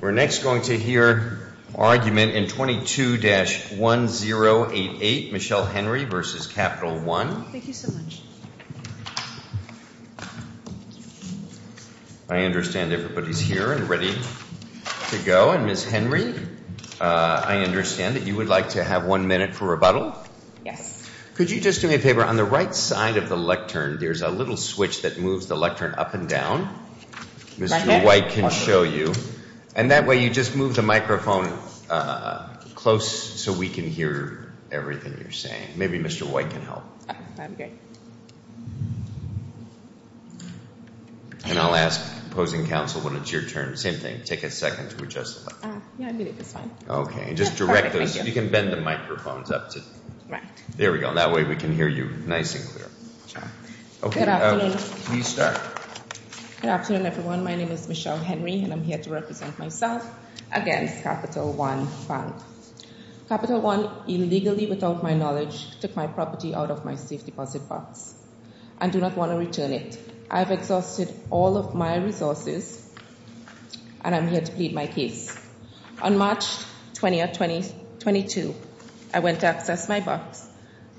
We're next going to hear argument in 22-1088, Michelle Henry v. Capital One. Thank you so much. I understand everybody's here and ready to go. And, Ms. Henry, I understand that you would like to have one minute for rebuttal. Yes. Could you just do me a favor? On the right side of the lectern, there's a little switch that moves the lectern up and down. Mr. White can show you. And that way, you just move the microphone close so we can hear everything you're saying. Maybe Mr. White can help. Okay. And I'll ask opposing counsel when it's your turn. Same thing, take a second to adjust the microphone. Yeah, a minute is fine. Okay. Just direct those. You can bend the microphones up. There we go. That way we can hear you nice and clear. Okay. Good afternoon. Please start. Good afternoon, everyone. My name is Michelle Henry, and I'm here to represent myself against Capital One Bank. Capital One illegally, without my knowledge, took my property out of my safe deposit box and do not want to return it. I have exhausted all of my resources, and I'm here to plead my case. On March 22, I went to access my box,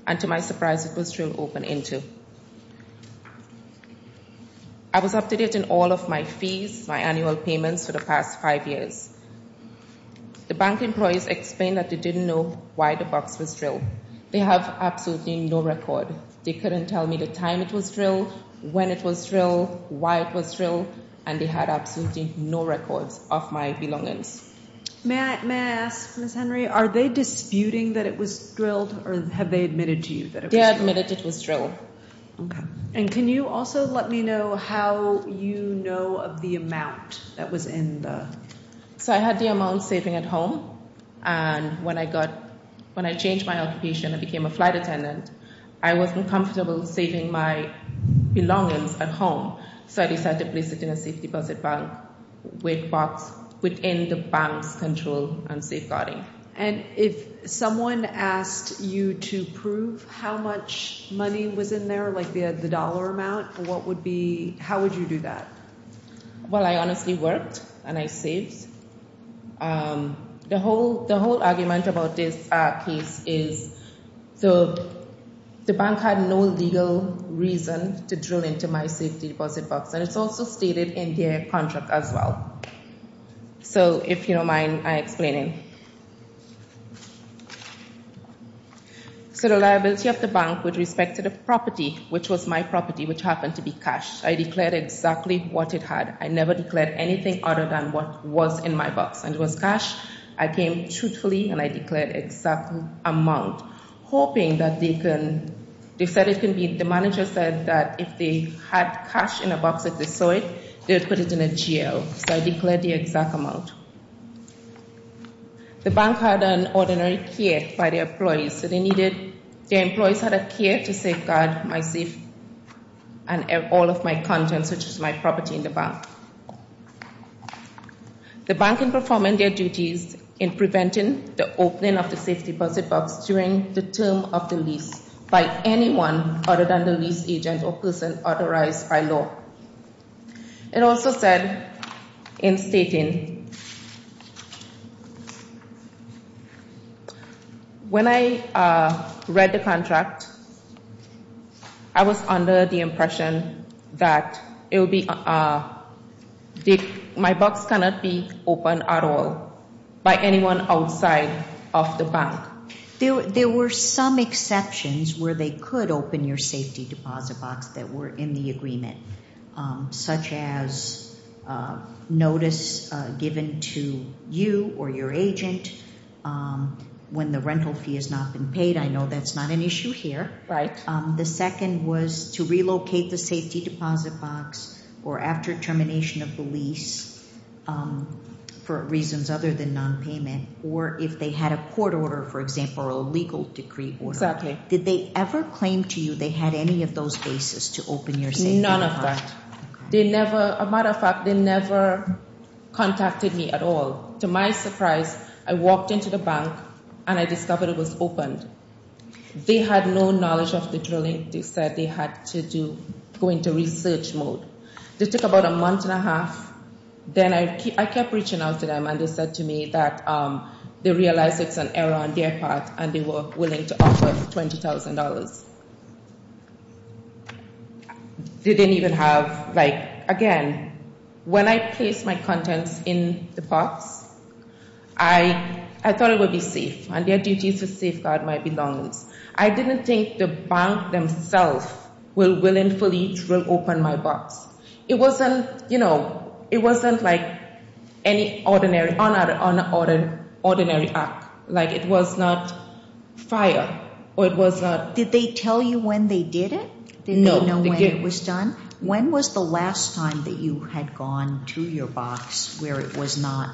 and to my surprise, it was drilled open into. I was up to date on all of my fees, my annual payments for the past five years. The bank employees explained that they didn't know why the box was drilled. They have absolutely no record. They couldn't tell me the time it was drilled, when it was drilled, why it was drilled, and they had absolutely no records of my belongings. May I ask, Ms. Henry, are they disputing that it was drilled, or have they admitted to you that it was drilled? They admitted it was drilled. Okay. And can you also let me know how you know of the amount that was in the box? I've been comfortable saving my belongings at home, so I decided to place it in a safe deposit box within the bank's control and safeguarding. And if someone asked you to prove how much money was in there, like the dollar amount, what would be—how would you do that? Well, I honestly worked, and I saved. The whole argument about this case is the bank had no legal reason to drill into my safety deposit box, and it's also stated in their contract as well. So if you don't mind, I'll explain it. So the liability of the bank with respect to the property, which was my property, which happened to be cash. I declared exactly what it had. I never declared anything other than what was in my box. And it was cash. I came truthfully, and I declared exact amount, hoping that they can—they said it can be—the manager said that if they had cash in a box that they saw it, they would put it in a jail. So I declared the exact amount. The bank had an ordinary care by their employees, so they needed—their employees had a care to safeguard my safe and all of my contents, which is my property in the bank. The bank in performing their duties in preventing the opening of the safety deposit box during the term of the lease by anyone other than the lease agent or person authorized by law. It also said in stating, when I read the contract, I was under the impression that it would be—my box cannot be opened at all by anyone outside of the bank. There were some exceptions where they could open your safety deposit box that were in the agreement, such as notice given to you or your agent when the rental fee has not been paid. I know that's not an issue here. Right. The second was to relocate the safety deposit box or after termination of the lease for reasons other than nonpayment, or if they had a court order, for example, or a legal decree order. Exactly. Did they ever claim to you they had any of those bases to open your safety deposit box? None of that. They never—a matter of fact, they never contacted me at all. To my surprise, I walked into the bank, and I discovered it was opened. They had no knowledge of the drilling. They said they had to go into research mode. They took about a month and a half. Then I kept reaching out to them, and they said to me that they realized it's an error on their part, and they were willing to offer $20,000. They didn't even have—like, again, when I placed my contents in the box, I thought it would be safe, and their duty is to safeguard my belongings. I didn't think the bank themselves were willing to fully drill open my box. It wasn't, you know, it wasn't like any ordinary act. Like, it was not fire, or it was not— Did they tell you when they did it? No. Did they know when it was done? When was the last time that you had gone to your box where it was not—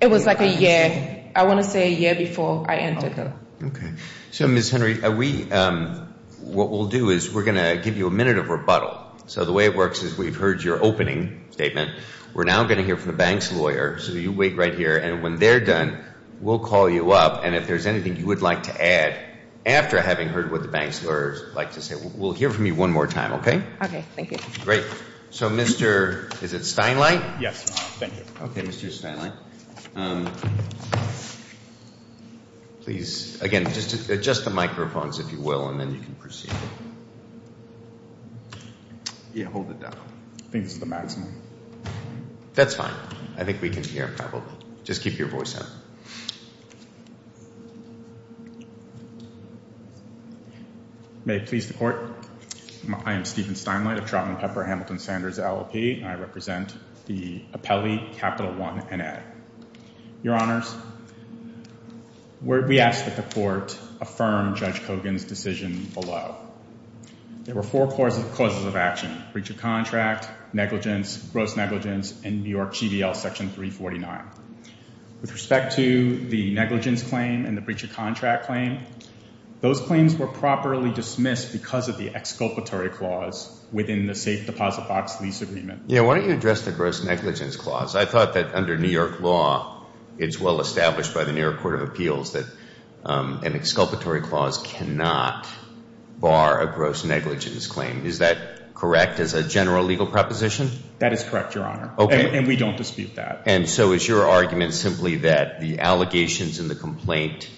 It was like a year. I want to say a year before I entered them. Okay. So, Ms. Henry, we—what we'll do is we're going to give you a minute of rebuttal. So the way it works is we've heard your opening statement. We're now going to hear from the bank's lawyer. So you wait right here, and when they're done, we'll call you up. And if there's anything you would like to add after having heard what the bank's lawyer would like to say, we'll hear from you one more time, okay? Okay. Thank you. Great. So, Mr.—is it Steinlein? Yes. Thank you. Okay, Mr. Steinlein. Please, again, adjust the microphones, if you will, and then you can proceed. Yeah, hold it down. I think this is the maximum. That's fine. I think we can hear, probably. Just keep your voice down. May it please the Court, I am Stephen Steinlein of Trout and Pepper Hamilton Sanders, LLP, and I represent the appellee, Capital One, N.A. Your Honors, we ask that the Court affirm Judge Kogan's decision below. There were four causes of action, breach of contract, negligence, gross negligence, and New York GVL Section 349. With respect to the negligence claim and the breach of contract claim, those claims were properly dismissed because of the exculpatory clause within the safe deposit box lease agreement. Yeah, why don't you address the gross negligence clause? I thought that under New York law, it's well established by the New York Court of Appeals that an exculpatory clause cannot bar a gross negligence claim. Is that correct as a general legal proposition? That is correct, Your Honor. Okay. And we don't dispute that. And so is your argument simply that the allegations in the complaint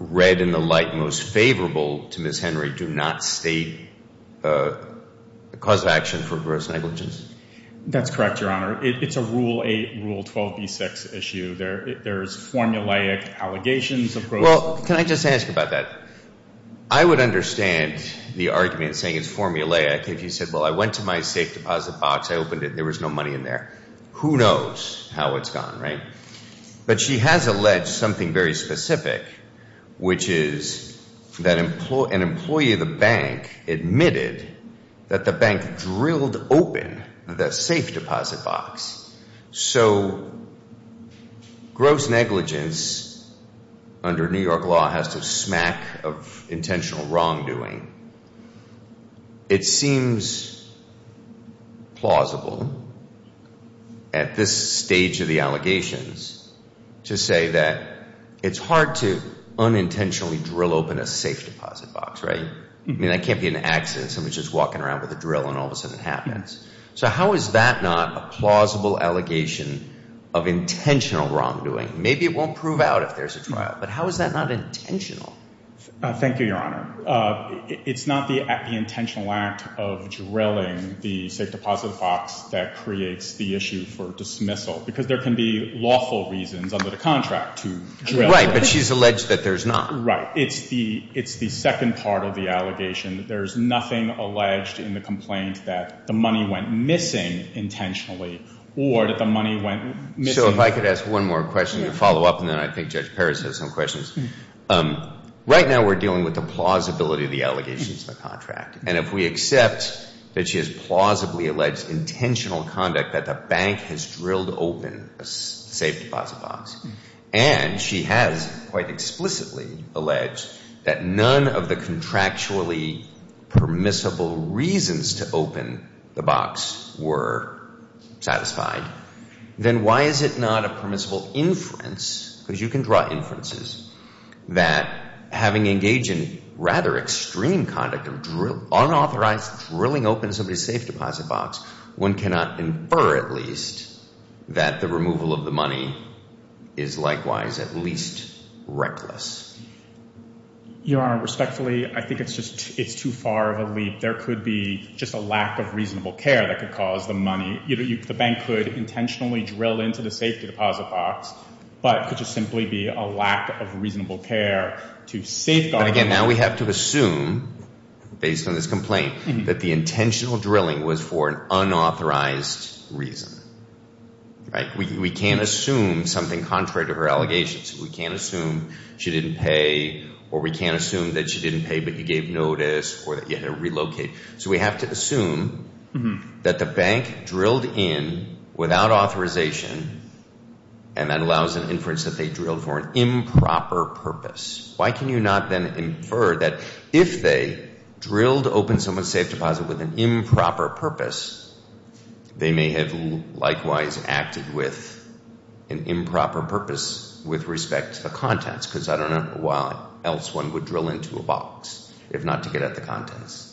read in the light most favorable to Ms. Henry do not state a cause of action for gross negligence? That's correct, Your Honor. It's a Rule 8, Rule 12b6 issue. There's formulaic allegations of gross negligence. Well, can I just ask about that? I would understand the argument saying it's formulaic if you said, well, I went to my safe deposit box, I opened it, and there was no money in there. Who knows how it's gone, right? But she has alleged something very specific, which is that an employee of the bank admitted that the bank drilled open the safe deposit box. So gross negligence under New York law has to smack of intentional wrongdoing. It seems plausible at this stage of the allegations to say that it's hard to unintentionally drill open a safe deposit box, right? I mean, that can't be an accident. Somebody's just walking around with a drill and all of a sudden it happens. So how is that not a plausible allegation of intentional wrongdoing? Maybe it won't prove out if there's a trial, but how is that not intentional? Thank you, Your Honor. It's not the intentional act of drilling the safe deposit box that creates the issue for dismissal because there can be lawful reasons under the contract to drill. Right, but she's alleged that there's not. Right. It's the second part of the allegation. There's nothing alleged in the complaint that the money went missing intentionally or that the money went missing. So if I could ask one more question to follow up, and then I think Judge Paris has some questions. Right now we're dealing with the plausibility of the allegations in the contract. And if we accept that she has plausibly alleged intentional conduct, that the bank has drilled open a safe deposit box, and she has quite explicitly alleged that none of the contractually permissible reasons to open the box were satisfied, then why is it not a permissible inference, because you can draw inferences, that having engaged in rather extreme conduct of unauthorized drilling open somebody's safe deposit box, one cannot infer at least that the removal of the money is likewise at least reckless? Your Honor, respectfully, I think it's too far of a leap. There could be just a lack of reasonable care that could cause the money. The bank could intentionally drill into the safe deposit box, but it could just simply be a lack of reasonable care to safeguard. Again, now we have to assume, based on this complaint, that the intentional drilling was for an unauthorized reason. We can't assume something contrary to her allegations. We can't assume she didn't pay, or we can't assume that she didn't pay, but you gave notice, or that you had to relocate. So we have to assume that the bank drilled in without authorization, and that allows an inference that they drilled for an improper purpose. Why can you not then infer that if they drilled open someone's safe deposit with an improper purpose, they may have likewise acted with an improper purpose with respect to the contents, because I don't know why else one would drill into a box if not to get at the contents.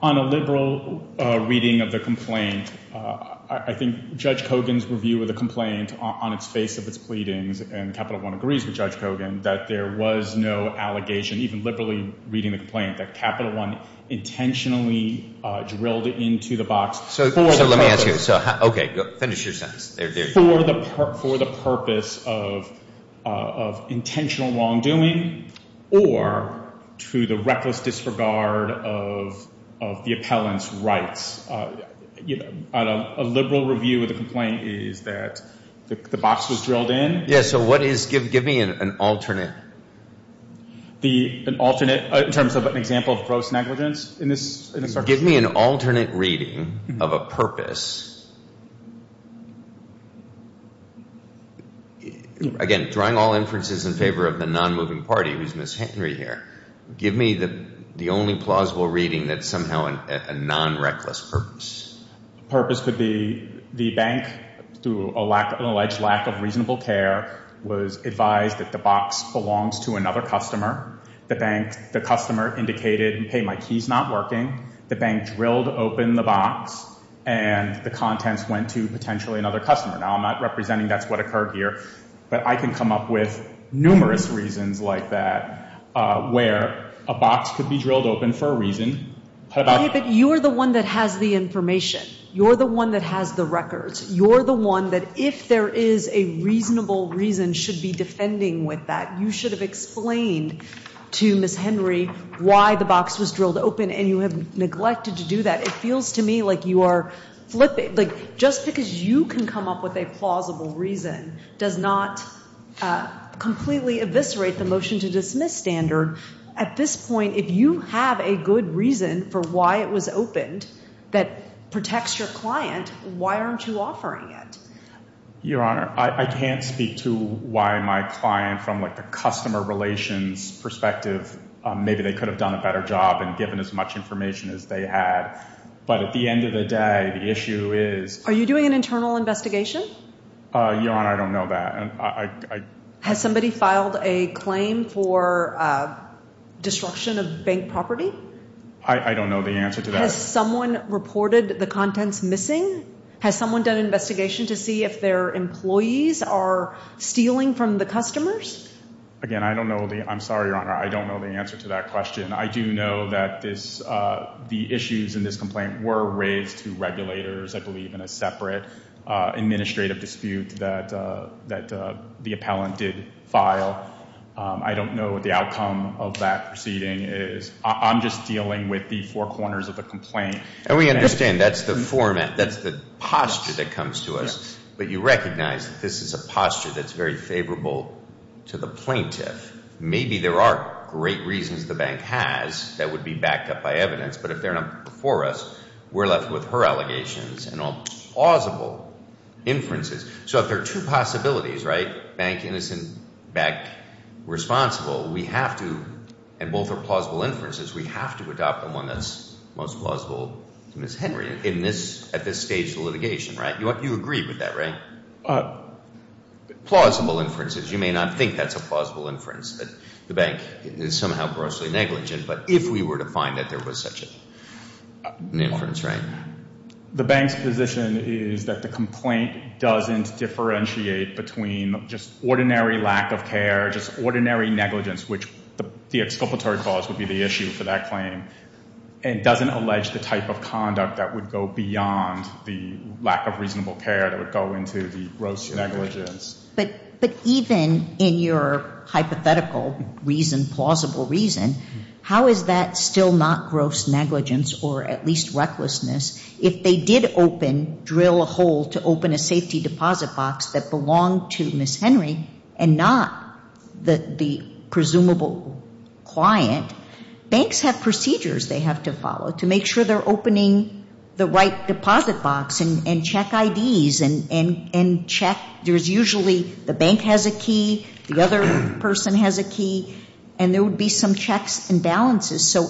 On a liberal reading of the complaint, I think Judge Kogan's review of the complaint on its face of its pleadings, and Capital One agrees with Judge Kogan, that there was no allegation, even liberally reading the complaint, that Capital One intentionally drilled into the box for the purpose. So let me ask you. Okay, finish your sentence. For the purpose of intentional wrongdoing, or to the reckless disregard of the appellant's rights. A liberal review of the complaint is that the box was drilled in. Yeah, so what is, give me an alternate. An alternate in terms of an example of gross negligence? Give me an alternate reading of a purpose. Again, drawing all inferences in favor of the non-moving party, who's Ms. Henry here, give me the only plausible reading that's somehow a non-reckless purpose. The purpose could be the bank, through an alleged lack of reasonable care, was advised that the box belongs to another customer. The customer indicated, hey, my key's not working. The bank drilled open the box, and the contents went to potentially another customer. Now, I'm not representing that's what occurred here, but I can come up with numerous reasons like that where a box could be drilled open for a reason. But you're the one that has the information. You're the one that has the records. You're the one that, if there is a reasonable reason, should be defending with that. You should have explained to Ms. Henry why the box was drilled open, and you have neglected to do that. It feels to me like you are flipping. Just because you can come up with a plausible reason does not completely eviscerate the motion to dismiss standard. At this point, if you have a good reason for why it was opened that protects your client, why aren't you offering it? Your Honor, I can't speak to why my client, from the customer relations perspective, maybe they could have done a better job and given as much information as they had. But at the end of the day, the issue is— Are you doing an internal investigation? Your Honor, I don't know that. Has somebody filed a claim for destruction of bank property? I don't know the answer to that. Has someone reported the contents missing? Has someone done an investigation to see if their employees are stealing from the customers? Again, I don't know the—I'm sorry, Your Honor. I don't know the answer to that question. I do know that the issues in this complaint were raised to regulators, I believe, in a separate administrative dispute that the appellant did file. I don't know what the outcome of that proceeding is. I'm just dealing with the four corners of the complaint. And we understand that's the posture that comes to us, but you recognize that this is a posture that's very favorable to the plaintiff. Maybe there are great reasons the bank has that would be backed up by evidence, but if they're not before us, we're left with her allegations and all plausible inferences. So if there are two possibilities, right, bank innocent, bank responsible, we have to—and both are plausible inferences— we have to adopt the one that's most plausible to Ms. Henry at this stage of litigation, right? You agree with that, right? Plausible inferences. You may not think that's a plausible inference, that the bank is somehow grossly negligent, but if we were to find that there was such an inference, right? The bank's position is that the complaint doesn't differentiate between just ordinary lack of care, just ordinary negligence, which the exculpatory clause would be the issue for that claim, and doesn't allege the type of conduct that would go beyond the lack of reasonable care that would go into the gross negligence. But even in your hypothetical reason, plausible reason, how is that still not gross negligence or at least recklessness if they did open, drill a hole to open a safety deposit box that belonged to Ms. Henry and not the presumable client? Banks have procedures they have to follow to make sure they're opening the right deposit box and check IDs and check—there's usually the bank has a key, the other person has a key, and there would be some checks and balances. So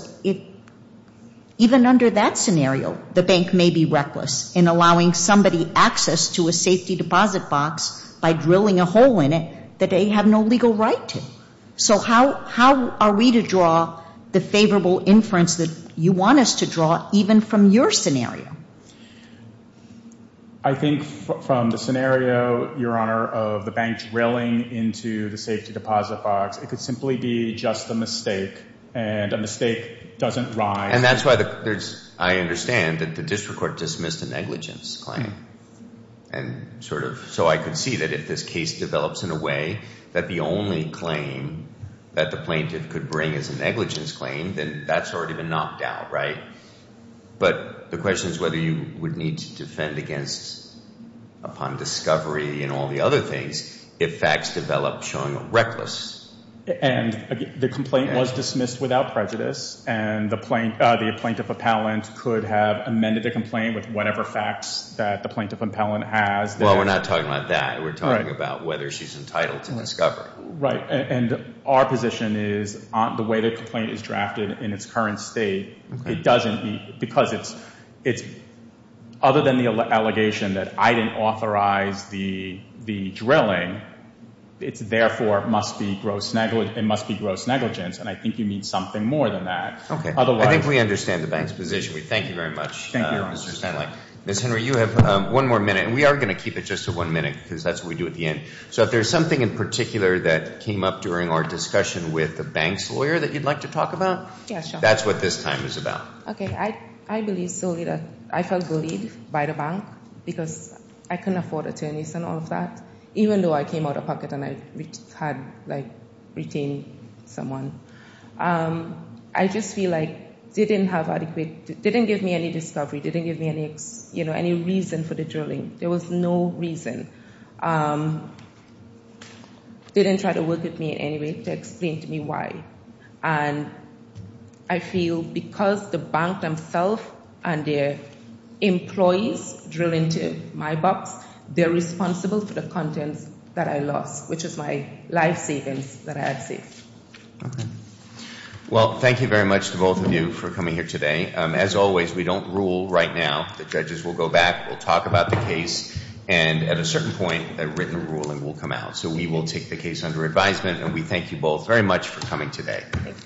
even under that scenario, the bank may be reckless in allowing somebody access to a safety deposit box by drilling a hole in it that they have no legal right to. So how are we to draw the favorable inference that you want us to draw even from your scenario? I think from the scenario, Your Honor, of the bank drilling into the safety deposit box, it could simply be just a mistake, and a mistake doesn't rise— And that's why I understand that the district court dismissed a negligence claim. And sort of—so I could see that if this case develops in a way that the only claim that the plaintiff could bring is a negligence claim, then that's already been knocked out, right? But the question is whether you would need to defend against, upon discovery and all the other things, if facts develop showing a reckless— The plaintiff appellant could have amended the complaint with whatever facts that the plaintiff appellant has. Well, we're not talking about that. We're talking about whether she's entitled to discovery. Right, and our position is the way the complaint is drafted in its current state, it doesn't—because it's—other than the allegation that I didn't authorize the drilling, it therefore must be gross negligence, and I think you need something more than that. Okay, I think we understand the bank's position. We thank you very much, Mr. Stanley. Ms. Henry, you have one more minute, and we are going to keep it just to one minute, because that's what we do at the end. So if there's something in particular that came up during our discussion with the bank's lawyer that you'd like to talk about, that's what this time is about. Okay, I believe solely that I felt bullied by the bank, because I couldn't afford attorneys and all of that, even though I came out of pocket and I had retained someone. I just feel like they didn't have adequate—they didn't give me any discovery. They didn't give me any reason for the drilling. There was no reason. They didn't try to work with me in any way to explain to me why, and I feel because the bank themselves and their employees drill into my box, they're responsible for the contents that I lost, which is my life savings that I had saved. Okay. Well, thank you very much to both of you for coming here today. As always, we don't rule right now. The judges will go back. We'll talk about the case, and at a certain point, a written ruling will come out. So we will take the case under advisement, and we thank you both very much for coming today.